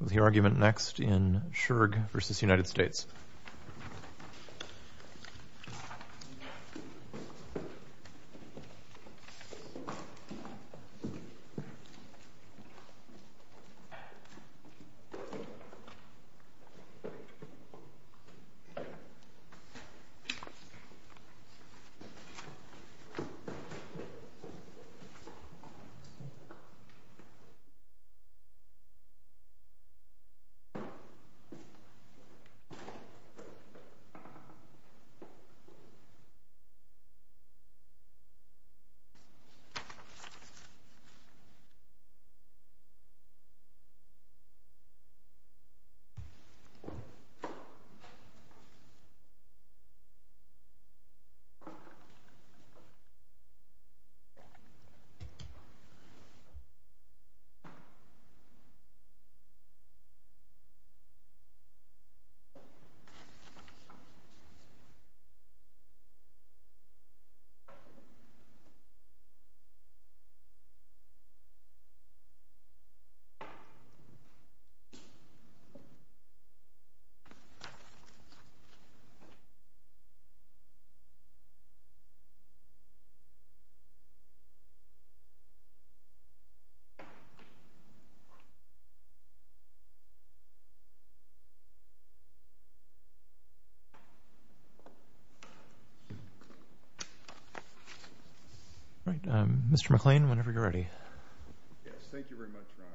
The argument next in Schurg v. United States Mr. McClain, whenever you're ready. Yes, thank you very much, Your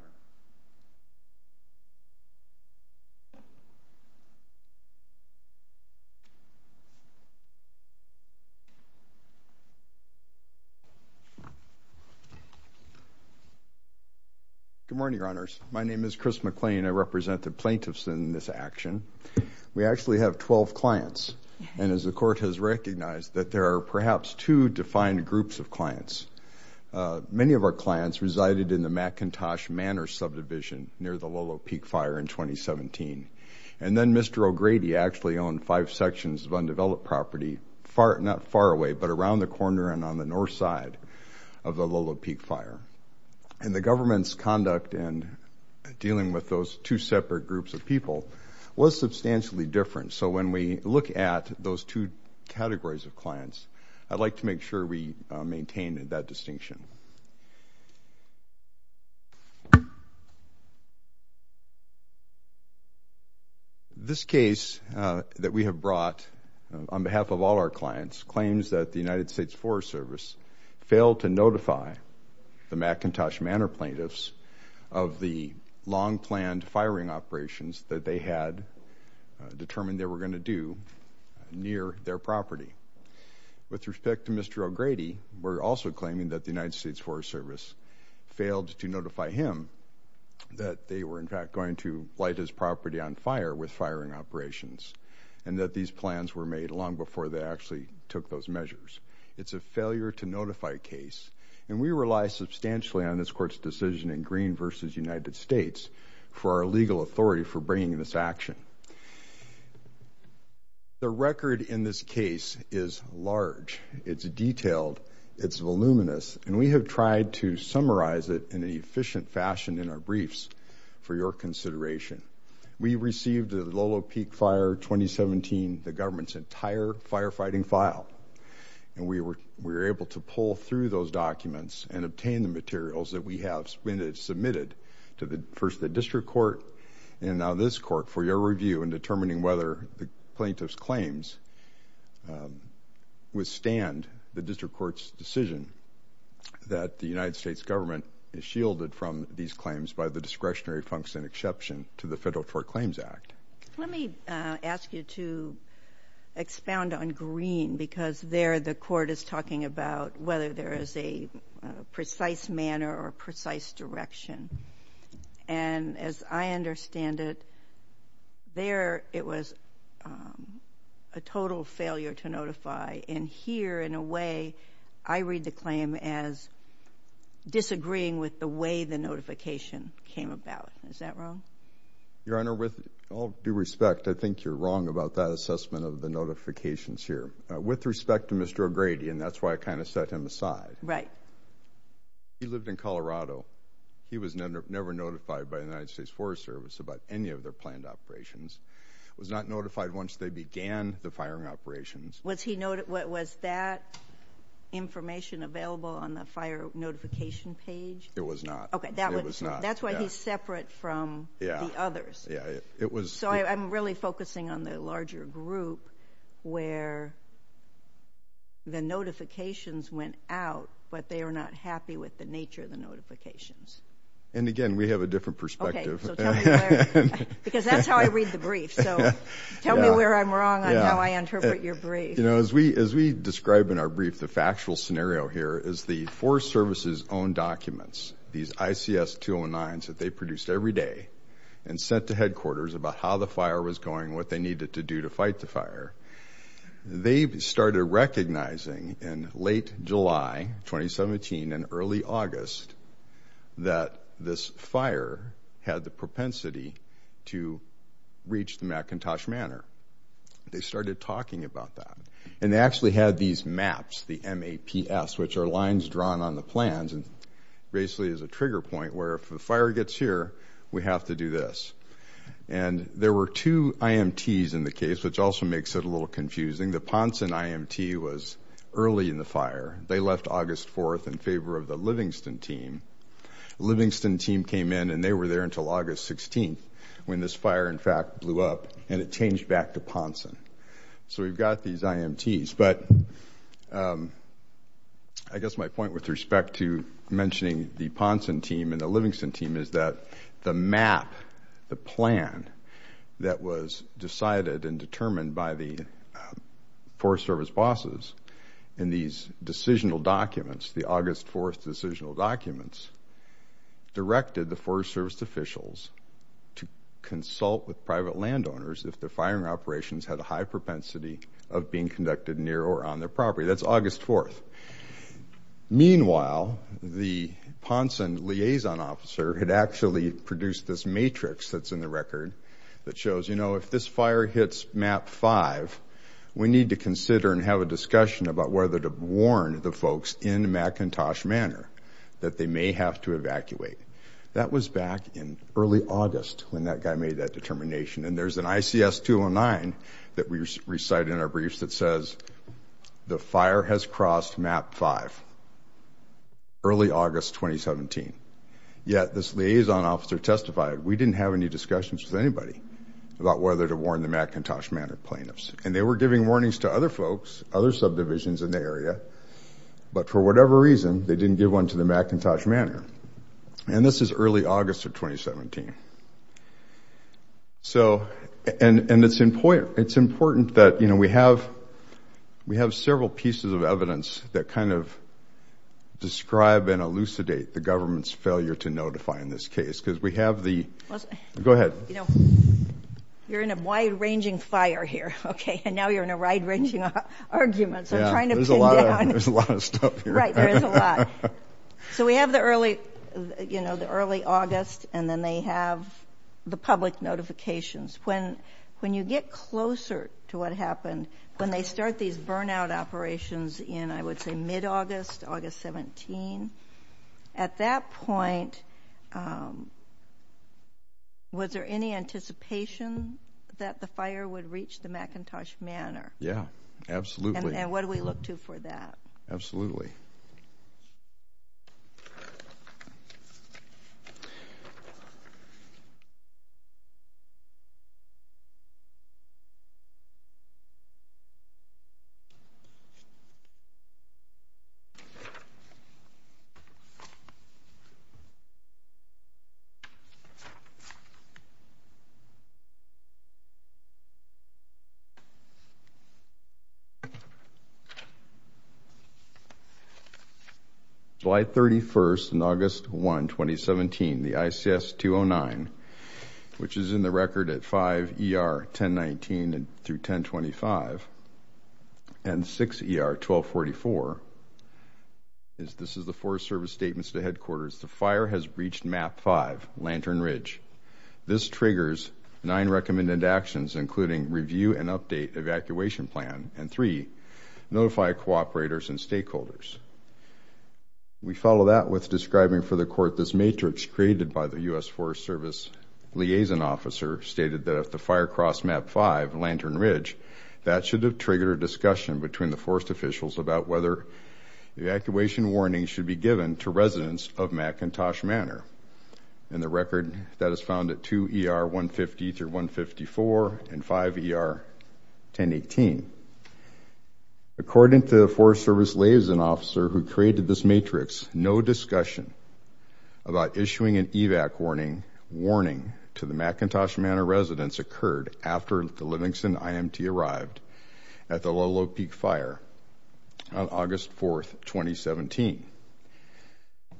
Honor. Good morning, Your Honors. My name is Chris McClain. I represent the plaintiffs in this action. We actually have 12 clients, and as the Court has recognized, that there are perhaps two defined groups of clients. Many of our clients resided in the McIntosh Manor subdivision near the Lolo Peak Fire in 2017. And then Mr. O'Grady actually owned five sections of undeveloped property, not far away, but around the corner and on the north side of the Lolo Peak Fire. And the government's conduct in dealing with those two separate groups of people was substantially different. So when we look at those two categories of clients, I'd like to make sure we maintain that distinction. This case that we have brought, on behalf of all our clients, claims that the United States Forest Service failed to notify the McIntosh Manor plaintiffs of the long-planned firing operations that they had determined they were going to do near their property. With respect to Mr. O'Grady, we're also claiming that the United States Forest Service failed to notify him that they were, in fact, going to light his property on fire with firing operations, and that these plans were made long before they actually took those measures. It's a failure-to-notify case, and we rely substantially on this Court's decision in Green v. United States for our legal authority for bringing this action. The record in this case is large, it's detailed, it's voluminous, and we have tried to summarize it in an efficient fashion in our briefs, for your consideration. We received the Lolo Peak Fire 2017, the government's entire firefighting file, and we were able to pull through those documents and obtain the materials that we have submitted to the whether the plaintiff's claims withstand the District Court's decision that the United States government is shielded from these claims by the discretionary function exception to the Federal Tort Claims Act. Let me ask you to expound on Green, because there the Court is talking about whether there is a precise manner or a precise direction. And as I understand it, there it was a total failure-to-notify, and here, in a way, I read the claim as disagreeing with the way the notification came about. Is that wrong? Your Honor, with all due respect, I think you're wrong about that assessment of the notifications here. With respect to Mr. O'Grady, and that's why I kind of set him aside. Right. He lived in Colorado. He was never notified by the United States Forest Service about any of their planned operations. He was not notified once they began the firing operations. Was that information available on the fire notification page? It was not. Okay. It was not. That's why he's separate from the others. Yeah. Yeah. It was. So I'm really focusing on the larger group where the notifications went out, but they were not happy with the nature of the notifications. And again, we have a different perspective. Okay. So tell me where... Because that's how I read the brief, so tell me where I'm wrong on how I interpret your brief. You know, as we describe in our brief, the factual scenario here is the Forest Service's own documents, these ICS 209s that they produced every day and sent to headquarters about how the fire was going, what they needed to do to fight the fire. They started recognizing in late July 2017 and early August that this fire had the propensity to reach the McIntosh Manor. They started talking about that. And they actually had these maps, the M-A-P-S, which are lines drawn on the plans and basically is a trigger point where if a fire gets here, we have to do this. And there were two IMTs in the case, which also makes it a little confusing. The Ponson IMT was early in the fire. They left August 4th in favor of the Livingston team. The Livingston team came in and they were there until August 16th when this fire in fact blew up and it changed back to Ponson. So we've got these IMTs. But I guess my point with respect to mentioning the Ponson team and the Livingston team is that the map, the plan that was decided and determined by the Forest Service bosses in these decisional documents, the August 4th decisional documents, directed the Forest Service officials to consult with private landowners if the firing operations had a high propensity of being conducted near or on their property. That's August 4th. Meanwhile, the Ponson liaison officer had actually produced this matrix that's in the record that shows, you know, if this fire hits Map 5, we need to consider and have a discussion about whether to warn the folks in McIntosh Manor that they may have to evacuate. That was back in early August when that guy made that determination. And there's an ICS 209 that we recite in our briefs that says, the fire has crossed Map 5, early August 2017. Yet this liaison officer testified, we didn't have any discussions with anybody about whether to warn the McIntosh Manor plaintiffs. And they were giving warnings to other folks, other subdivisions in the area, but for whatever reason they didn't give one to the McIntosh Manor. And this is early August of 2017. So, and it's important that, you know, we have several pieces of evidence that kind of describe and elucidate the government's failure to notify in this case, because we have the... Go ahead. You know, you're in a wide-ranging fire here, okay? And now you're in a wide-ranging argument, so I'm trying to pin it down. There's a lot of stuff here. Right. There is a lot. So we have the early, you know, the early August, and then they have the public notifications. When you get closer to what happened, when they start these burnout operations in, I would say, mid-August, August 17, at that point, was there any anticipation that the fire would reach the McIntosh Manor? Yeah. Absolutely. And what do we look to for that? Absolutely. July 31 and August 1, 2017, the ICS-209, which is in the record at 5 ER 1019 through 1025, and 6 ER 1244, this is the Forest Service Statements to Headquarters, the fire has reached Map 5, Lantern Ridge. This triggers nine recommended actions, including review and update evacuation plan, and three, notify cooperators and stakeholders. We follow that with describing for the court this matrix created by the U.S. Forest Service liaison officer, stated that if the fire crossed Map 5, Lantern Ridge, that should have triggered a discussion between the forest officials about whether evacuation warnings should be given to residents of McIntosh Manor. In the record, that is found at 2 ER 150 through 154, and 5 ER 1018. According to the Forest Service liaison officer who created this matrix, no discussion about issuing an evac warning to the McIntosh Manor residents occurred after the Livingston IMT arrived at the Lolo Peak fire on August 4, 2017.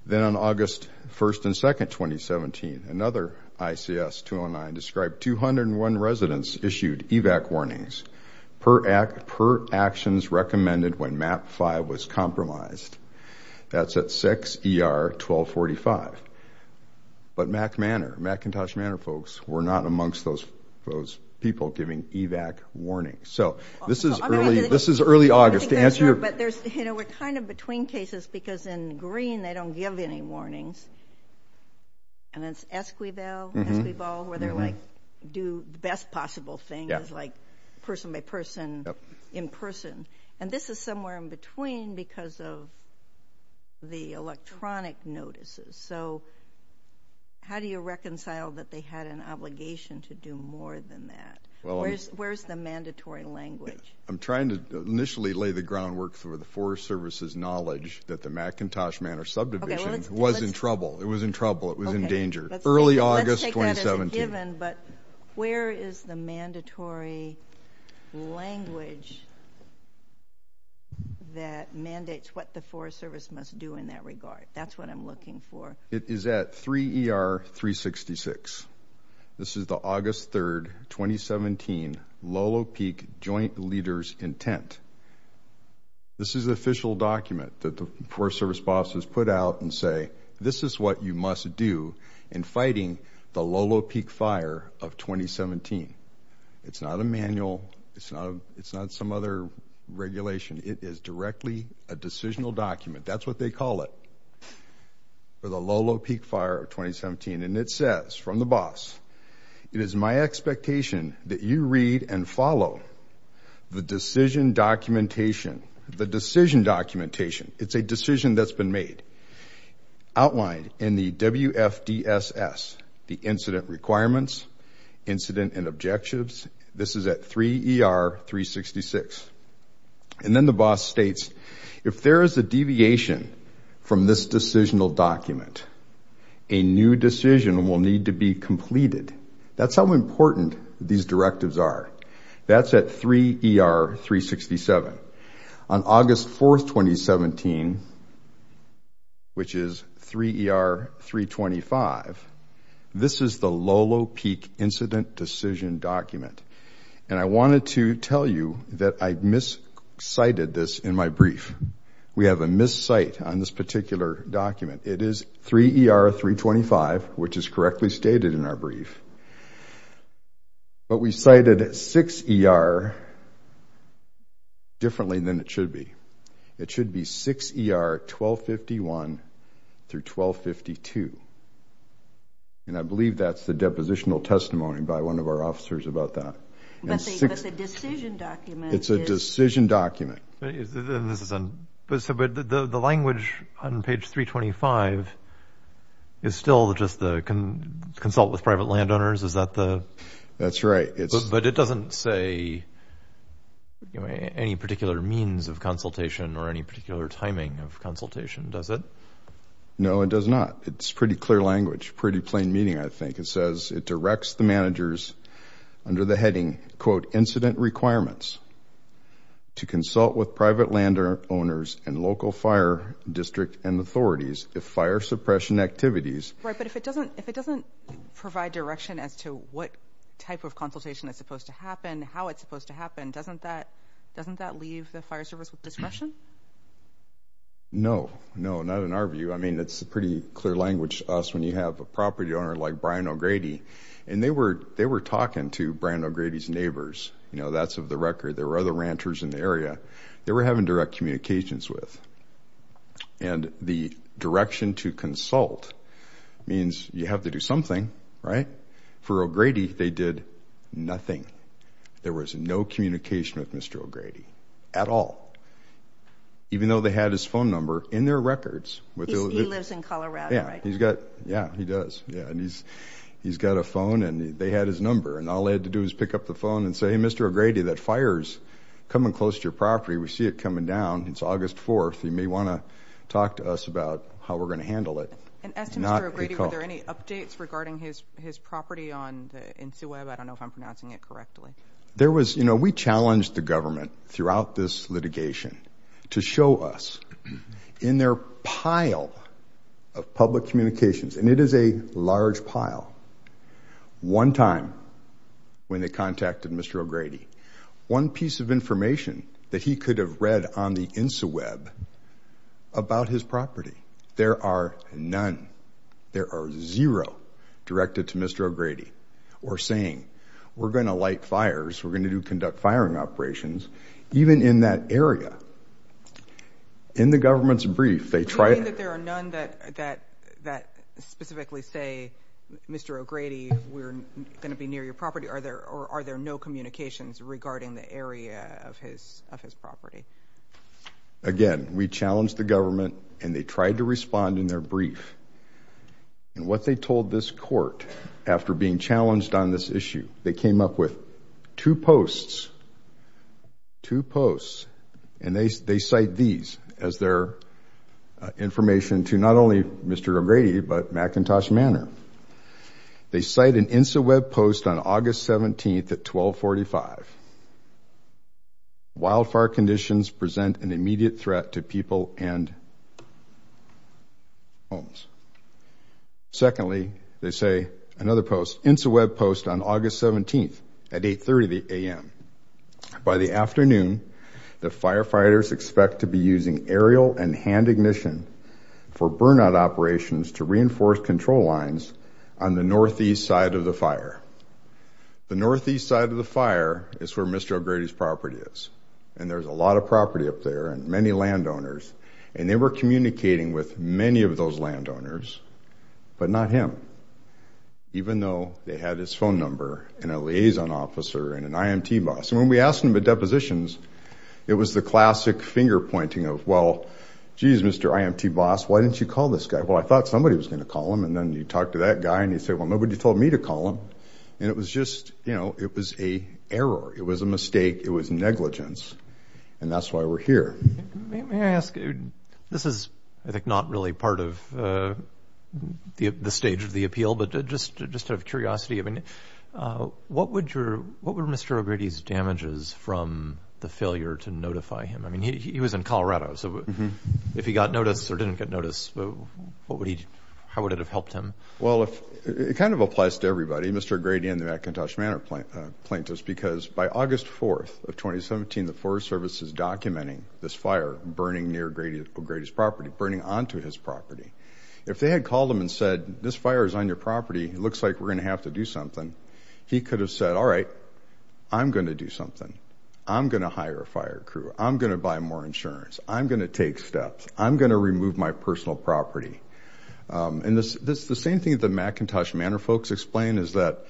Then on August 1st and 2nd, 2017, another ICS-209 described 201 residents issued evac warnings per actions recommended when Map 5 was compromised. That's at 6 ER 1245, but McIntosh Manor folks were not amongst those people giving evac warnings. So, this is early August to answer your question. But, you know, we're kind of between cases because in green they don't give any warnings, and it's Esquivel, Esquivel, where they're like, do the best possible thing, it's like person by person, in person, and this is somewhere in between because of the electronic notices, so how do you reconcile that they had an obligation to do more than that? Where's the mandatory language? I'm trying to initially lay the groundwork for the Forest Service's knowledge that the McIntosh Manor subdivision was in trouble. It was in trouble. It was in danger. Early August 2017. Let's take that as a given, but where is the mandatory language that mandates what the Forest Service must do in that regard? That's what I'm looking for. It is at 3 ER 366. This is the August 3, 2017, Lolo Peak Joint Leaders Intent. This is the official document that the Forest Service bosses put out and say, this is what you must do in fighting the Lolo Peak Fire of 2017. It's not a manual. It's not some other regulation. It is directly a decisional document. That's what they call it, for the Lolo Peak Fire of 2017. It says, from the boss, it is my expectation that you read and follow the decision documentation. The decision documentation. It's a decision that's been made, outlined in the WFDSS, the incident requirements, incident and objectives. This is at 3 ER 366. And then the boss states, if there is a deviation from this decisional document, a new decision will need to be completed. That's how important these directives are. That's at 3 ER 367. On August 4, 2017, which is 3 ER 325, this is the Lolo Peak Incident Decision Document. And I wanted to tell you that I miscited this in my brief. We have a miscite on this particular document. It is 3 ER 325, which is correctly stated in our brief. But we cited 6 ER differently than it should be. It should be 6 ER 1251 through 1252. And I believe that's the depositional testimony by one of our officers about that. But the decision document is... It's a decision document. But the language on page 325 is still just the consult with private landowners? Is that the... That's right. But it doesn't say any particular means of consultation or any particular timing of consultation, does it? No, it does not. It's pretty clear language. Pretty plain meaning, I think. It says... It directs the managers under the heading, quote, incident requirements to consult with private landowners and local fire district and authorities if fire suppression activities... Right. But if it doesn't provide direction as to what type of consultation is supposed to happen, how it's supposed to happen, doesn't that leave the fire service with discretion? No. No, not in our view. I mean, it's pretty clear language to us when you have a property owner like Brian O'Grady. And they were talking to Brian O'Grady's neighbors. That's of the record. There were other ranchers in the area they were having direct communications with. And the direction to consult means you have to do something, right? For O'Grady, they did nothing. There was no communication with Mr. O'Grady at all. Even though they had his phone number in their records. He lives in Colorado, right? Yeah, he does. Yeah. And he's got a phone, and they had his number. And all they had to do was pick up the phone and say, hey, Mr. O'Grady, that fire's coming close to your property. We see it coming down. It's August 4th. You may want to talk to us about how we're going to handle it. And as to Mr. O'Grady, were there any updates regarding his property on the NCWEB? I don't know if I'm pronouncing it correctly. There was, you know, we challenged the government throughout this litigation to show us in their pile of public communications, and it is a large pile. One time when they contacted Mr. O'Grady, one piece of information that he could have read on the NCWEB about his property. There are none. There are zero directed to Mr. O'Grady or saying, we're going to light fires, we're going to conduct firing operations, even in that area. In the government's brief, they try to- You mean that there are none that specifically say, Mr. O'Grady, we're going to be near your property, or are there no communications regarding the area of his property? Again, we challenged the government and they tried to respond in their brief. And what they told this court after being challenged on this issue, they came up with two posts, two posts, and they cite these as their information to not only Mr. O'Grady, but McIntosh Manor. They cite an NCWEB post on August 17th at 1245, wildfire conditions present an immediate threat to people and homes. Secondly, they say another post, NCWEB post on August 17th at 830 a.m., by the afternoon, the firefighters expect to be using aerial and hand ignition for burnout operations to on the northeast side of the fire. The northeast side of the fire is where Mr. O'Grady's property is. And there's a lot of property up there and many landowners. And they were communicating with many of those landowners, but not him. Even though they had his phone number and a liaison officer and an IMT boss. And when we asked him about depositions, it was the classic finger pointing of, well, geez, Mr. IMT boss, why didn't you call this guy? Well, I thought somebody was going to call him. And then you talk to that guy and you say, well, nobody told me to call him. And it was just, you know, it was a error. It was a mistake. It was negligence. And that's why we're here. May I ask, this is, I think, not really part of the stage of the appeal, but just to just have curiosity, I mean, what would your, what were Mr. O'Grady's damages from the failure to notify him? I mean, he was in Colorado. So if he got notice or didn't get notice, what would he, how would it have helped him? Well, it kind of applies to everybody, Mr. O'Grady and the McIntosh Manor plaintiffs, because by August 4th of 2017, the Forest Service is documenting this fire burning near O'Grady's property, burning onto his property. If they had called him and said, this fire is on your property, it looks like we're going to have to do something. He could have said, all right, I'm going to do something. I'm going to hire a fire crew. I'm going to buy more insurance. I'm going to take steps. I'm going to remove my personal property. And the same thing that the McIntosh Manor folks explain is that,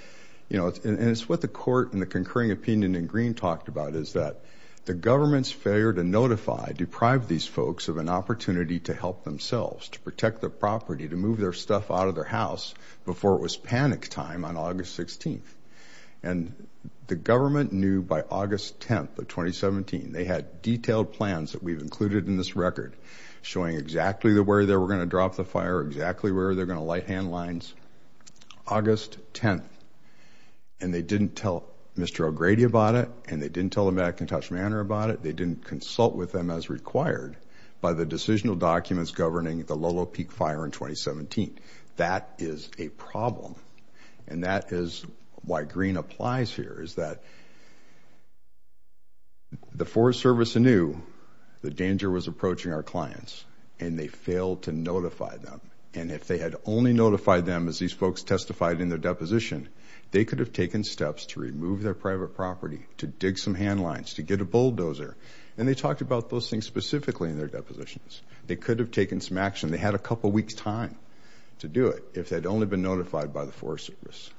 you know, and it's what the court in the concurring opinion in Green talked about, is that the government's failure to notify deprived these folks of an opportunity to help themselves, to protect their property, to move their stuff out of their house before it was panic time on August 16th. And the government knew by August 10th of 2017. They had detailed plans that we've included in this record showing exactly where they were going to drop the fire, exactly where they're going to light hand lines, August 10th. And they didn't tell Mr. O'Grady about it, and they didn't tell the McIntosh Manor about it. They didn't consult with them as required by the decisional documents governing the Lolo Peak fire in 2017. That is a problem. And that is why Green applies here, is that the Forest Service knew the danger was approaching our clients, and they failed to notify them. And if they had only notified them as these folks testified in their deposition, they could have taken steps to remove their private property, to dig some hand lines, to get a bulldozer. And they talked about those things specifically in their depositions. They could have taken some action. And they had a couple weeks' time to do it if they'd only been notified by the Forest Service.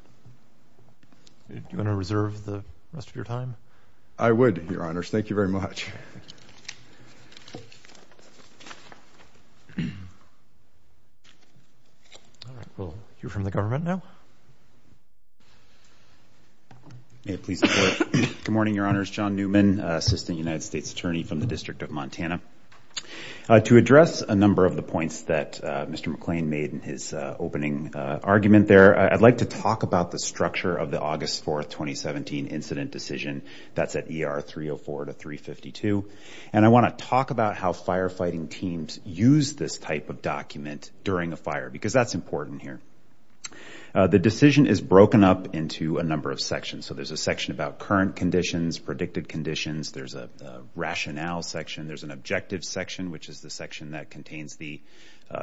Do you want to reserve the rest of your time? I would, Your Honors. Thank you very much. Thank you. All right. We'll hear from the government now. May it please the Court. Good morning, Your Honors. John Newman, Assistant United States Attorney from the District of Montana. To address a number of the points that Mr. McClain made in his opening argument there, I'd like to talk about the structure of the August 4, 2017, incident decision that's at ER 304 to 352. And I want to talk about how firefighting teams use this type of document during a fire, because that's important here. The decision is broken up into a number of sections. So there's a section about current conditions, predicted conditions. There's a rationale section. There's an objective section, which is the section that contains the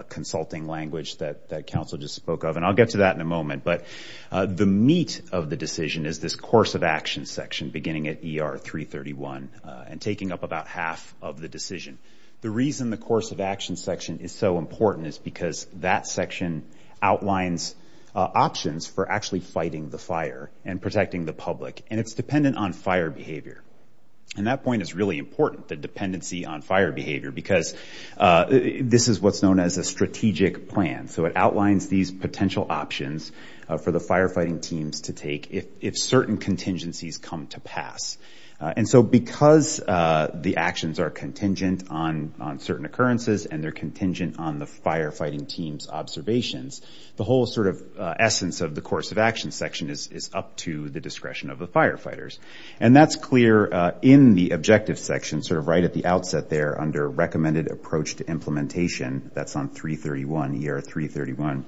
consulting language that counsel just spoke of. And I'll get to that in a moment. But the meat of the decision is this course of action section, beginning at ER 331, and taking up about half of the decision. The reason the course of action section is so important is because that section outlines options for actually fighting the fire and protecting the public. And it's dependent on fire behavior. And that point is really important, the dependency on fire behavior, because this is what's known as a strategic plan. So it outlines these potential options for the firefighting teams to take if certain contingencies come to pass. And so because the actions are contingent on certain occurrences, and they're contingent on the firefighting team's observations, the whole sort of essence of the course of action section is up to the discretion of the firefighters. And that's clear in the objective section, sort of right at the outset there under recommended approach to implementation. That's on 331, ER 331.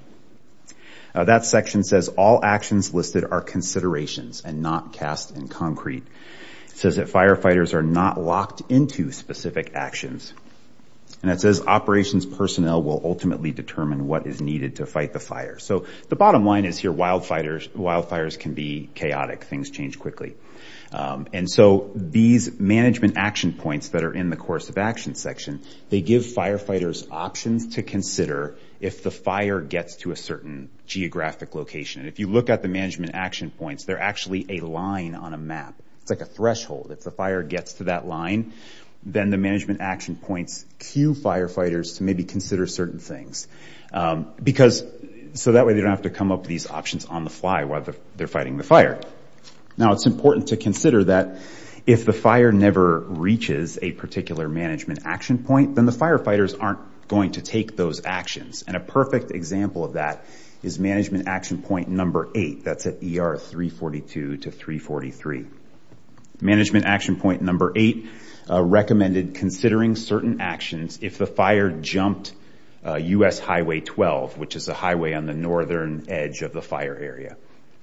That section says all actions listed are considerations and not cast in concrete. It says that firefighters are not locked into specific actions. And it says operations personnel will ultimately determine what is needed to fight the fire. So the bottom line is here, wildfires can be chaotic. Things change quickly. And so these management action points that are in the course of action section, they give firefighters options to consider if the fire gets to a certain geographic location. And if you look at the management action points, they're actually a line on a map. It's like a threshold. If the fire gets to that line, then the management action points cue firefighters to maybe consider certain things. So that way they don't have to come up with these options on the fly while they're fighting the fire. Now, it's important to consider that if the fire never reaches a particular management action point, then the firefighters aren't going to take those actions. And a perfect example of that is management action point number eight. That's at ER 342 to 343. Management action point number eight recommended considering certain actions if the fire jumped US Highway 12, which is a highway on the northern edge of the fire area.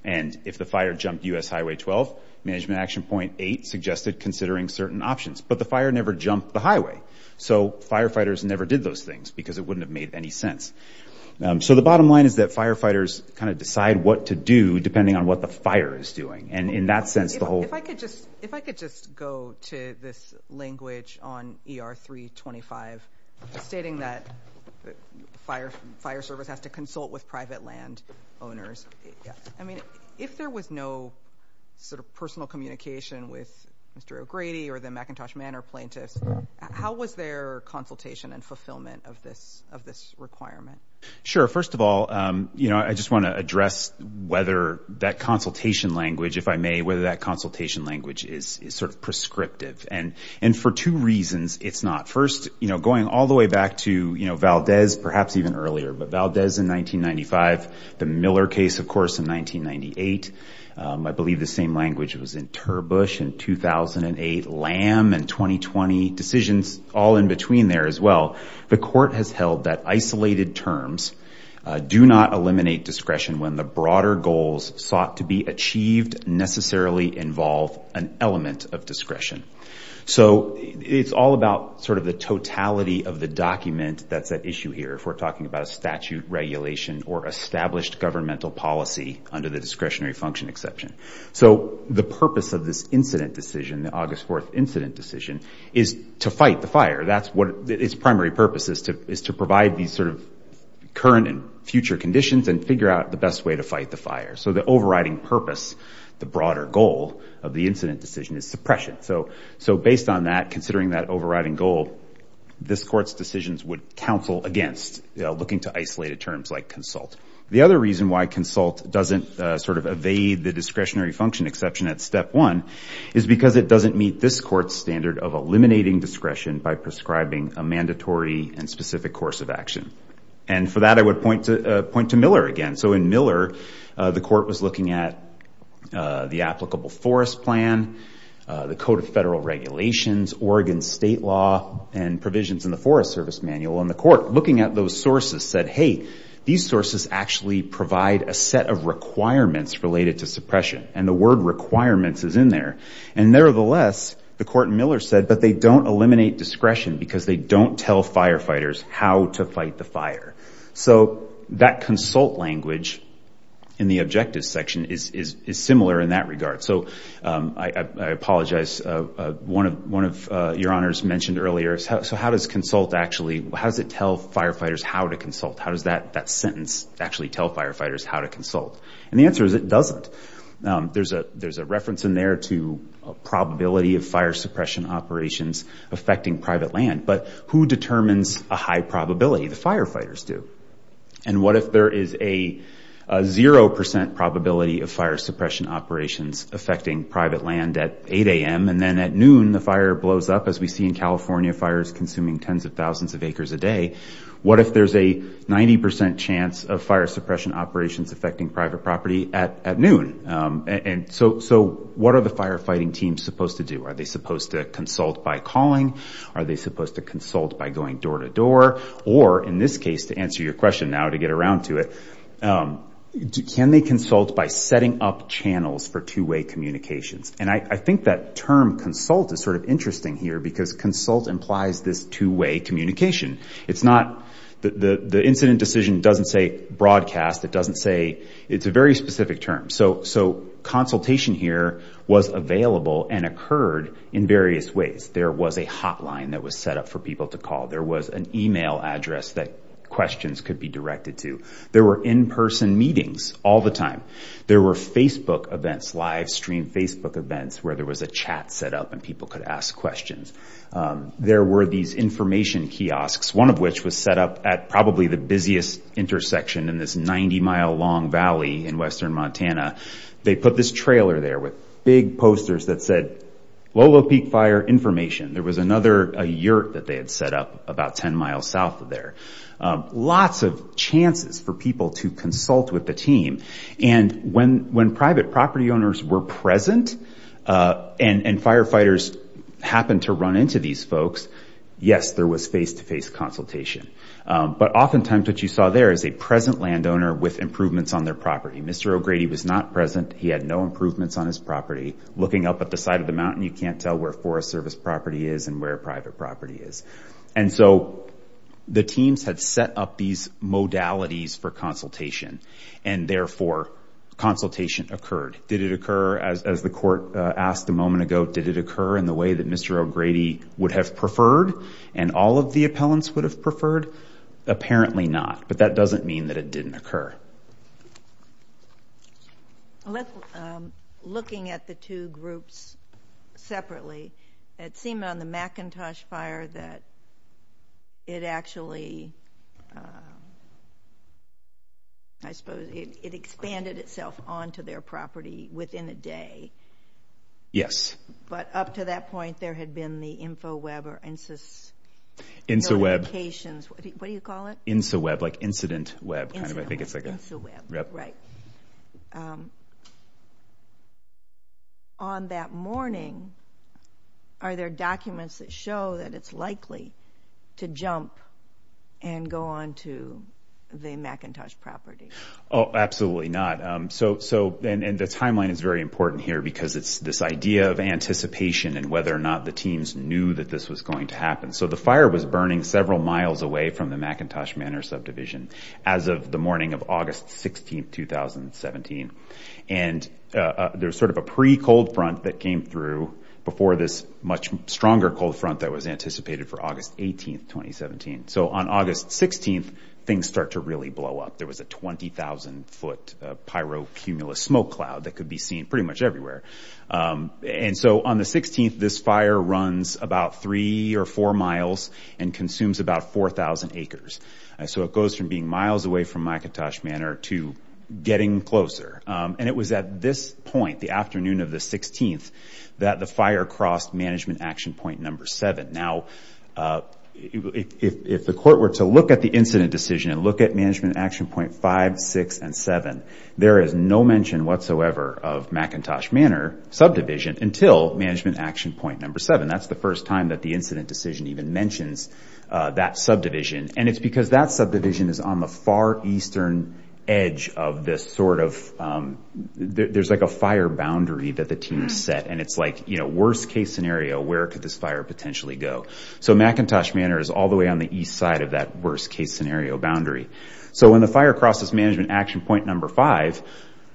And if the fire jumped US Highway 12, management action point eight suggested considering certain options. But the fire never jumped the highway. So firefighters never did those things because it wouldn't have made any sense. So the bottom line is that firefighters kind of decide what to do depending on what the fire is doing. And in that sense, the whole- If I could just go to this language on ER 325 stating that fire service has to consult with private land owners. Yeah. I mean, if there was no sort of personal communication with Mr. O'Grady or the McIntosh Manor plaintiffs, how was their consultation and fulfillment of this requirement? Sure. First of all, I just want to address whether that consultation language, if I may, whether that consultation language is sort of prescriptive. And for two reasons, it's not. First, going all the way back to Valdez, perhaps even earlier. But Valdez in 1995, the Miller case, of course, in 1998. I believe the same language was in Terbush in 2008, Lamb in 2020. Decisions all in between there as well. The court has held that isolated terms do not eliminate discretion when the broader goals sought to be achieved necessarily involve an element of discretion. So it's all about sort of the totality of the document that's at issue here. If we're talking about a statute regulation or established governmental policy under the discretionary function exception. So the purpose of this incident decision, the August 4th incident decision, is to fight the fire. That's what its primary purpose is to provide these sort of current and future conditions and figure out the best way to fight the fire. So the overriding purpose, the broader goal of the incident decision is suppression. So based on that, considering that overriding goal, this court's decisions would counsel against looking to isolated terms like consult. The other reason why consult doesn't sort of evade the discretionary function exception at step one is because it doesn't meet this court's standard of eliminating discretion by prescribing a mandatory and specific course of action. And for that, I would point to Miller again. So in Miller, the court was looking at the applicable forest plan, the code of federal regulations, Oregon state law, and provisions in the Forest Service Manual. And the court, looking at those sources, said, hey, these sources actually provide a set of requirements related to suppression. And the word requirements is in there. And nevertheless, the court in Miller said, but they don't eliminate discretion because they don't tell firefighters how to fight the fire. So that consult language in the objectives section is similar in that regard. So I apologize. One of your honors mentioned earlier, so how does consult actually, how does it tell firefighters how to consult? How does that sentence actually tell firefighters how to consult? And the answer is it doesn't. There's a reference in there to a probability of fire suppression operations affecting private land. But who determines a high probability? The firefighters do. And what if there is a 0% probability of fire suppression operations affecting private land at 8 a.m. and then at noon, the fire blows up, as we see in California, fires consuming tens of thousands of acres a day. What if there's a 90% chance of fire suppression operations affecting private property at noon? And so what are the firefighting teams supposed to do? Are they supposed to consult by calling? Are they supposed to consult by going door to door? Or in this case, to answer your question now, to get around to it, can they consult by setting up channels for two-way communications? And I think that term consult is sort of interesting here because consult implies this two-way communication. It's not, the incident decision doesn't say broadcast, it doesn't say, it's a very specific term. So consultation here was available and occurred in various ways. There was a hotline that was set up for people to call. There was an email address that questions could be directed to. There were in-person meetings all the time. There were Facebook events, live stream Facebook events, where there was a chat set up and people could ask questions. There were these information kiosks, one of which was set up at probably the busiest intersection in this 90-mile long valley in western Montana. They put this trailer there with big posters that said, Lolo Peak Fire Information. There was another, a yurt that they had set up about 10 miles south of there. Lots of chances for people to consult with the team. And when private property owners were present and firefighters happened to run into these folks, yes, there was face-to-face consultation. But oftentimes what you saw there is a present landowner with improvements on their property. Mr. O'Grady was not present. He had no improvements on his property. Looking up at the side of the mountain, you can't tell where Forest Service property is and where private property is. And so the teams had set up these modalities for consultation and therefore consultation occurred. Did it occur, as the court asked a moment ago, did it occur in the way that Mr. O'Grady would have preferred and all of the appellants would have preferred? Apparently not. But that doesn't mean that it didn't occur. So, looking at the two groups separately, it seemed on the McIntosh Fire that it actually, I suppose, it expanded itself onto their property within a day. Yes. But up to that point, there had been the InfoWeb or InsoWeb, what do you call it? InsoWeb. InsoWeb, like incident web. Incident web. InsoWeb. Right. On that morning, are there documents that show that it's likely to jump and go onto the McIntosh property? Oh, absolutely not. And the timeline is very important here because it's this idea of anticipation and whether or not the teams knew that this was going to happen. So the fire was burning several miles away from the McIntosh Manor subdivision as of the morning of August 16th, 2017. And there was sort of a pre-cold front that came through before this much stronger cold front that was anticipated for August 18th, 2017. So on August 16th, things start to really blow up. There was a 20,000 foot pyrocumulus smoke cloud that could be seen pretty much everywhere. And so on the 16th, this fire runs about three or four miles and consumes about 4,000 acres. So it goes from being miles away from McIntosh Manor to getting closer. And it was at this point, the afternoon of the 16th, that the fire crossed management action point number seven. Now, if the court were to look at the incident decision and look at management action point five, six, and seven, there is no mention whatsoever of McIntosh Manor subdivision until management action point number seven. That's the first time that the incident decision even mentions that subdivision. And it's because that subdivision is on the far eastern edge of this sort of, there's like a fire boundary that the team set. And it's like, you know, worst case scenario, where could this fire potentially go? So McIntosh Manor is all the way on the east side of that worst case scenario boundary. So when the fire crosses management action point number five,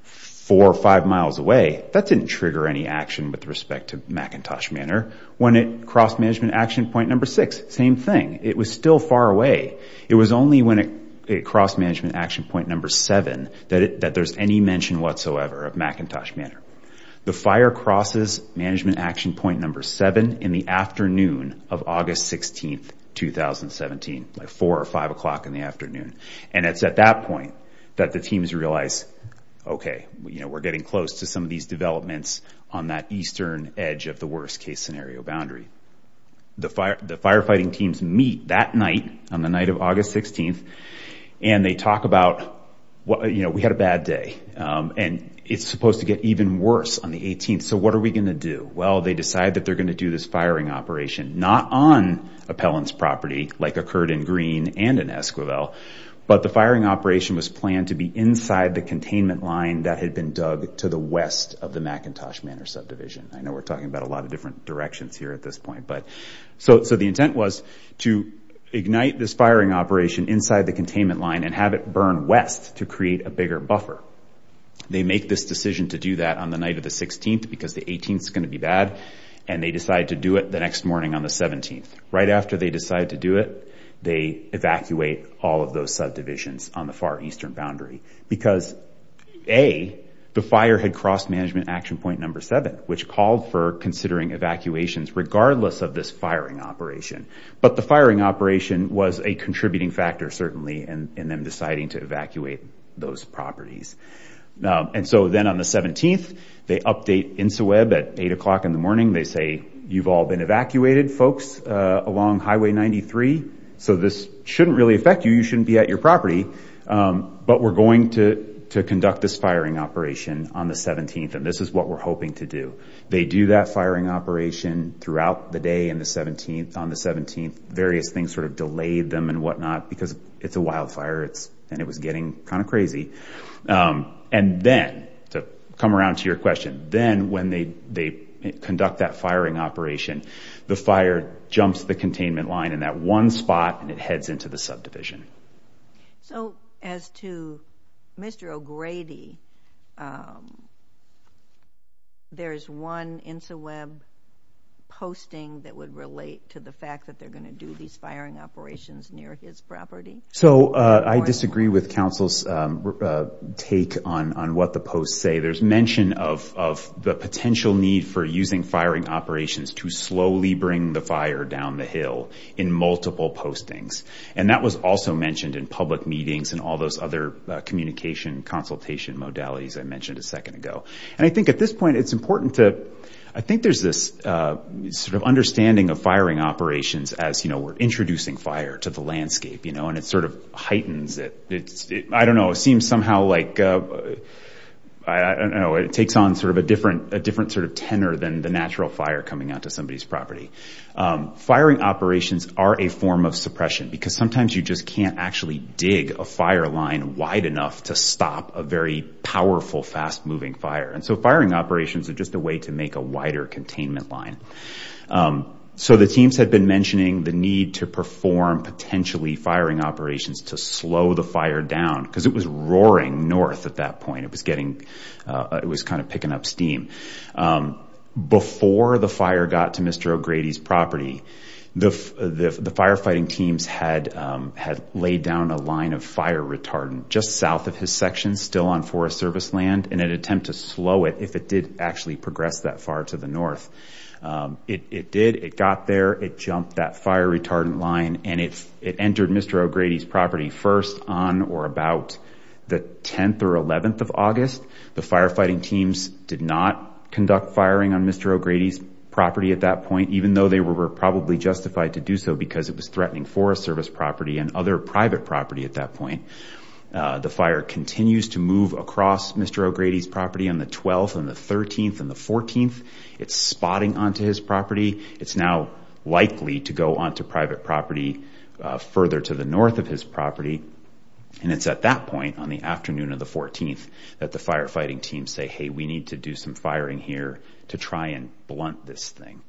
four or five miles away, that didn't trigger any action with respect to McIntosh Manor. When it crossed management action point number six, same thing. It was still far away. It was only when it crossed management action point number seven that there's any mention whatsoever of McIntosh Manor. The fire crosses management action point number seven in the afternoon of August 16th, 2017, at four or five o'clock in the afternoon. And it's at that point that the teams realize, okay, we're getting close to some of these developments on that eastern edge of the worst case scenario boundary. The firefighting teams meet that night, on the night of August 16th, and they talk about, you know, we had a bad day. And it's supposed to get even worse on the 18th. So what are we going to do? Well, they decide that they're going to do this firing operation, not on appellants property like occurred in Greene and in Esquivel, but the firing operation was planned to be inside the containment line that had been dug to the west of the McIntosh Manor subdivision. I know we're talking about a lot of different directions here at this point. So the intent was to ignite this firing operation inside the containment line and have it burn west to create a bigger buffer. They make this decision to do that on the night of the 16th, because the 18th is going to be bad. And they decide to do it the next morning on the 17th. Right after they decide to do it, they evacuate all of those subdivisions on the far eastern boundary because, A, the fire had crossed management action point number seven, which called for considering evacuations regardless of this firing operation. But the firing operation was a contributing factor, certainly, in them deciding to evacuate those properties. And so then on the 17th, they update INCIWEB at eight o'clock in the morning. They say, you've all been evacuated, folks, along Highway 93, so this shouldn't really affect you. You shouldn't be at your property. But we're going to conduct this firing operation on the 17th, and this is what we're hoping to do. They do that firing operation throughout the day on the 17th. Various things sort of delayed them and whatnot because it's a wildfire and it was getting kind of crazy. And then, to come around to your question, then when they conduct that firing operation, the fire jumps the containment line in that one spot and it heads into the subdivision. So as to Mr. O'Grady, there's one INCIWEB posting that would relate to the fact that they're going to do these firing operations near his property? So I disagree with Council's take on what the posts say. There's mention of the potential need for using firing operations to slowly bring the fire down the hill in multiple postings. And that was also mentioned in public meetings and all those other communication consultation modalities I mentioned a second ago. And I think at this point, it's important to, I think there's this sort of understanding of firing operations as we're introducing fire to the landscape and it sort of heightens it. I don't know, it seems somehow like, I don't know, it takes on sort of a different sort of tenor than the natural fire coming out to somebody's property. Firing operations are a form of suppression because sometimes you just can't actually dig a fire line wide enough to stop a very powerful, fast-moving fire. And so firing operations are just a way to make a wider containment line. So the teams had been mentioning the need to perform potentially firing operations to slow the fire down because it was roaring north at that point. It was getting, it was kind of picking up steam. Before the fire got to Mr. O'Grady's property, the firefighting teams had laid down a line of fire retardant just south of his section, still on Forest Service land, in an attempt to slow it if it did actually progress that far to the north. It did. It got there. It jumped that fire retardant line and it entered Mr. O'Grady's property first on or about the 10th or 11th of August. The firefighting teams did not conduct firing on Mr. O'Grady's property at that point, even though they were probably justified to do so because it was threatening Forest Service property and other private property at that point. The fire continues to move across Mr. O'Grady's property on the 12th and the 13th and the 14th. It's spotting onto his property. It's now likely to go onto private property further to the north of his property. And it's at that point, on the afternoon of the 14th, that the firefighting teams say, hey, we need to do some firing here to try and blunt this thing.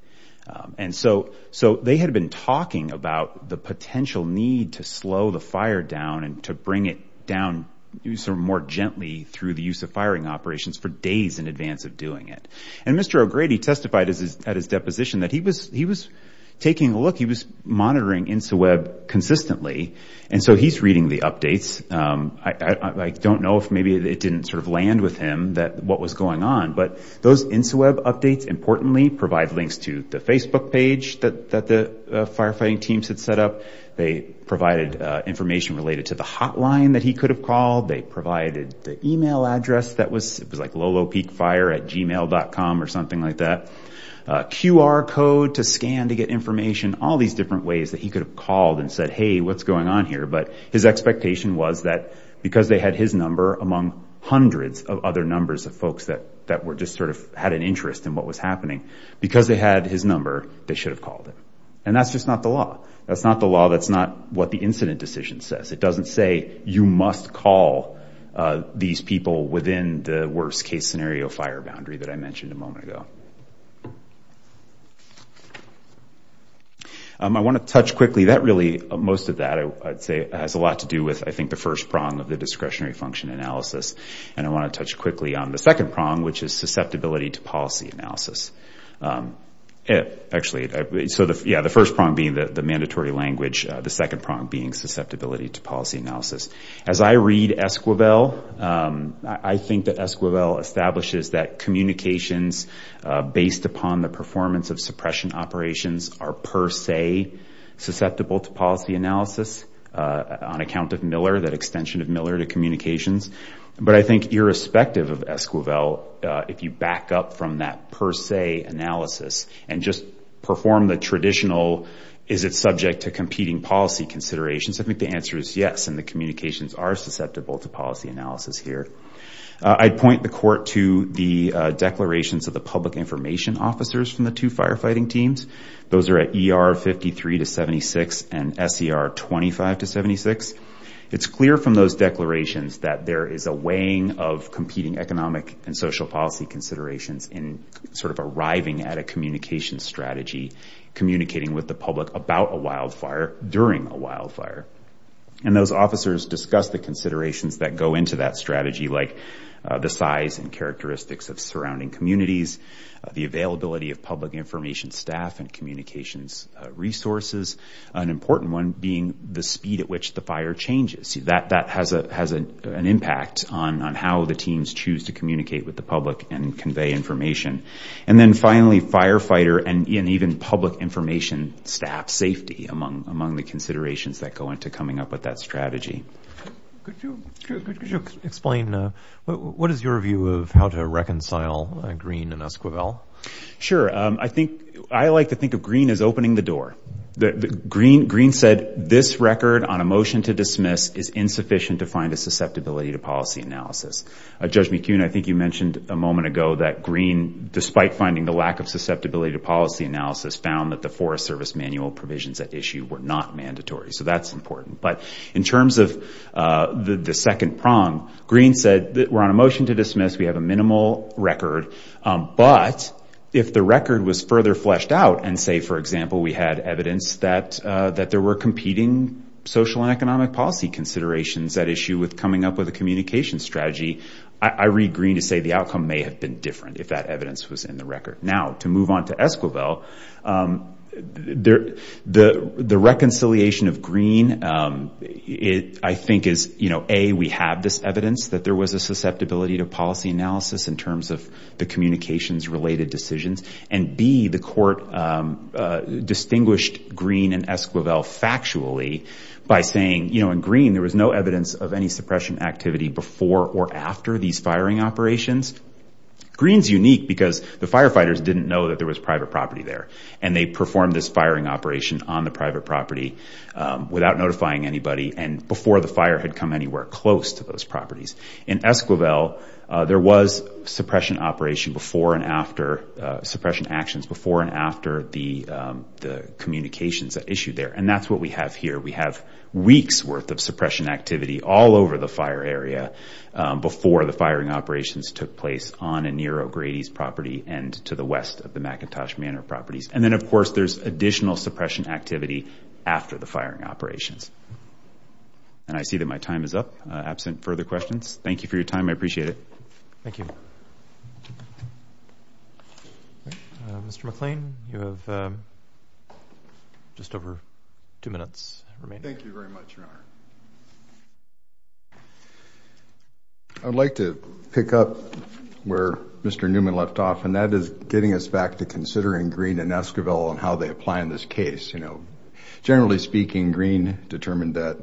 And so they had been talking about the potential need to slow the fire down and to bring it down more gently through the use of firing operations for days in advance of doing it. And Mr. O'Grady testified at his deposition that he was taking a look. He was monitoring InsaWeb consistently. And so he's reading the updates. I don't know if maybe it didn't sort of land with him what was going on, but those InsaWeb updates, importantly, provide links to the Facebook page that the firefighting teams had set up. They provided information related to the hotline that he could have called. They provided the email address that was, it was like lolopeakfire at gmail.com or something like that. QR code to scan to get information. All these different ways that he could have called and said, hey, what's going on here? But his expectation was that because they had his number among hundreds of other numbers of folks that were just sort of had an interest in what was happening, because they had his number, they should have called him. And that's just not the law. That's not the law. That's not what the incident decision says. It doesn't say you must call these people within the worst case scenario fire boundary that I mentioned a moment ago. I want to touch quickly. That really, most of that, I'd say, has a lot to do with, I think, the first prong of the discretionary function analysis. And I want to touch quickly on the second prong, which is susceptibility to policy analysis. Actually, so the first prong being the mandatory language, the second prong being susceptibility to policy analysis. As I read Esquivel, I think that Esquivel establishes that communications based upon the performance of suppression operations are per se susceptible to policy analysis on account of Miller, that extension of Miller to communications. But I think, irrespective of Esquivel, if you back up from that per se analysis and just perform the traditional, is it subject to competing policy considerations, I think the answer is yes. And the communications are susceptible to policy analysis here. I'd point the court to the declarations of the public information officers from the two firefighting teams. Those are at ER 53 to 76 and SER 25 to 76. It's clear from those declarations that there is a weighing of competing economic and social policy considerations in sort of arriving at a communication strategy, communicating with the public about a wildfire during a wildfire. And those officers discuss the considerations that go into that strategy, like the size and characteristics of surrounding communities, the availability of public information staff and communications resources, an important one being the speed at which the fire changes. That has an impact on how the teams choose to communicate with the public and convey information. And then finally, firefighter and even public information staff safety among the considerations that go into coming up with that strategy. Could you explain, what is your view of how to reconcile Green and Esquivel? Sure. I like to think of Green as opening the door. Green said, this record on a motion to dismiss is insufficient to find a susceptibility to policy analysis. Judge McKeon, I think you mentioned a moment ago that Green, despite finding the lack of susceptibility to policy analysis, found that the Forest Service manual provisions at issue were not mandatory. So that's important. But in terms of the second prong, Green said, we're on a motion to dismiss. We have a minimal record. But if the record was further fleshed out and say, for example, we had evidence that there were competing social and economic policy considerations at issue with coming up with a communication strategy, I read Green to say the outcome may have been different if that evidence was in the record. Now to move on to Esquivel, the reconciliation of Green, I think is, A, we have this evidence that there was a susceptibility to policy analysis in terms of the communications-related decisions. And B, the court distinguished Green and Esquivel factually by saying, in Green, there was no evidence of any suppression activity before or after these firing operations. Green's unique because the firefighters didn't know that there was private property there. And they performed this firing operation on the private property without notifying anybody and before the fire had come anywhere close to those properties. In Esquivel, there was suppression operation before and after, suppression actions before and after the communications at issue there. And that's what we have here. We have weeks worth of suppression activity all over the fire area before the firing operations took place on and near O'Grady's property and to the west of the McIntosh Manor properties. And then, of course, there's additional suppression activity after the firing operations. And I see that my time is up, absent further questions. Thank you for your time. I appreciate it. Thank you. Mr. McLean, you have just over two minutes remaining. Thank you very much, Your Honor. I'd like to pick up where Mr. Newman left off, and that is getting us back to considering Greene and Esquivel and how they apply in this case. Generally speaking, Greene determined that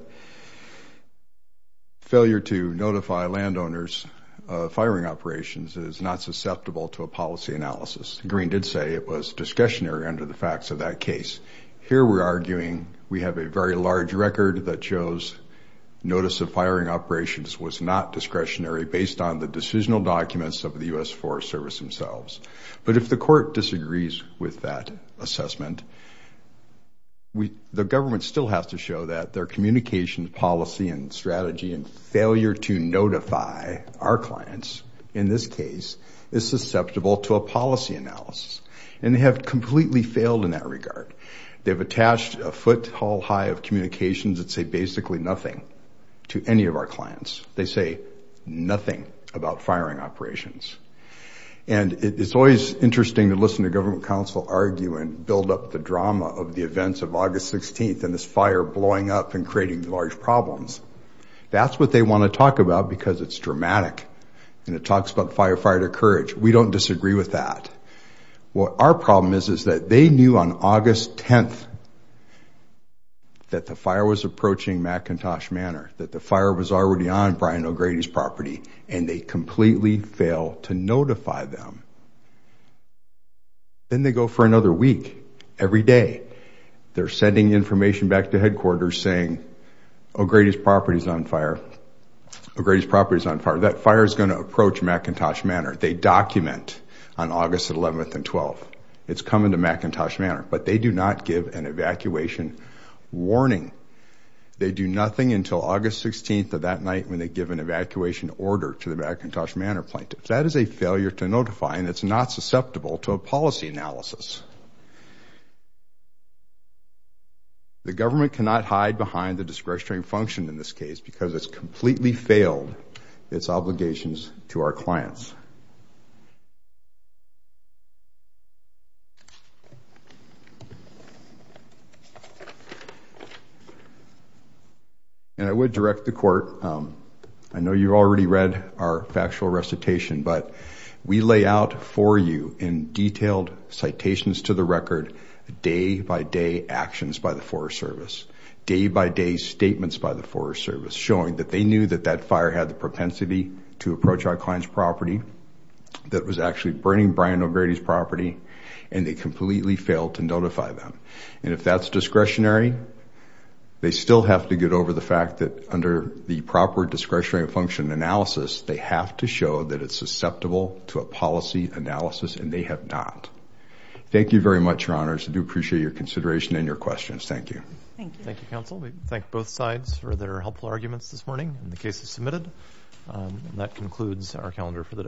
failure to notify landowners of firing operations is not susceptible to a policy analysis. Greene did say it was discretionary under the facts of that case. Here we're arguing we have a very large record that shows notice of firing operations was not discretionary based on the decisional documents of the U.S. Forest Service themselves. But if the court disagrees with that assessment, the government still has to show that their communication policy and strategy and failure to notify our clients in this case is susceptible to a policy analysis. And they have completely failed in that regard. They've attached a foothold high of communications that say basically nothing to any of our clients. They say nothing about firing operations. And it's always interesting to listen to government counsel argue and build up the drama of the events of August 16th and this fire blowing up and creating large problems. That's what they want to talk about because it's dramatic. And it talks about firefighter courage. We don't disagree with that. What our problem is is that they knew on August 10th that the fire was approaching McIntosh to notify them. Then they go for another week. Every day. They're sending information back to headquarters saying, oh, Grady's property is on fire. Oh, Grady's property is on fire. That fire is going to approach McIntosh Manor. They document on August 11th and 12th. It's coming to McIntosh Manor. But they do not give an evacuation warning. They do nothing until August 16th of that night when they give an evacuation order to the McIntosh Manor plaintiffs. That is a failure to notify and it's not susceptible to a policy analysis. The government cannot hide behind the discretionary function in this case because it's completely failed its obligations to our clients. And I would direct the court. I know you've already read our factual recitation, but we lay out for you in detailed citations to the record day-by-day actions by the Forest Service, day-by-day statements by the Forest Service showing that they knew that that fire had the propensity to approach our client's property that was actually burning Brian O'Grady's property and they completely failed to notify them. And if that's discretionary, they still have to get over the fact that under the proper discretionary function analysis, they have to show that it's susceptible to a policy analysis and they have not. Thank you very much, Your Honors. I do appreciate your consideration and your questions. Thank you. Thank you, counsel. We thank both sides for their helpful arguments this morning and the cases submitted. That concludes our calendar for the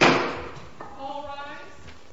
day.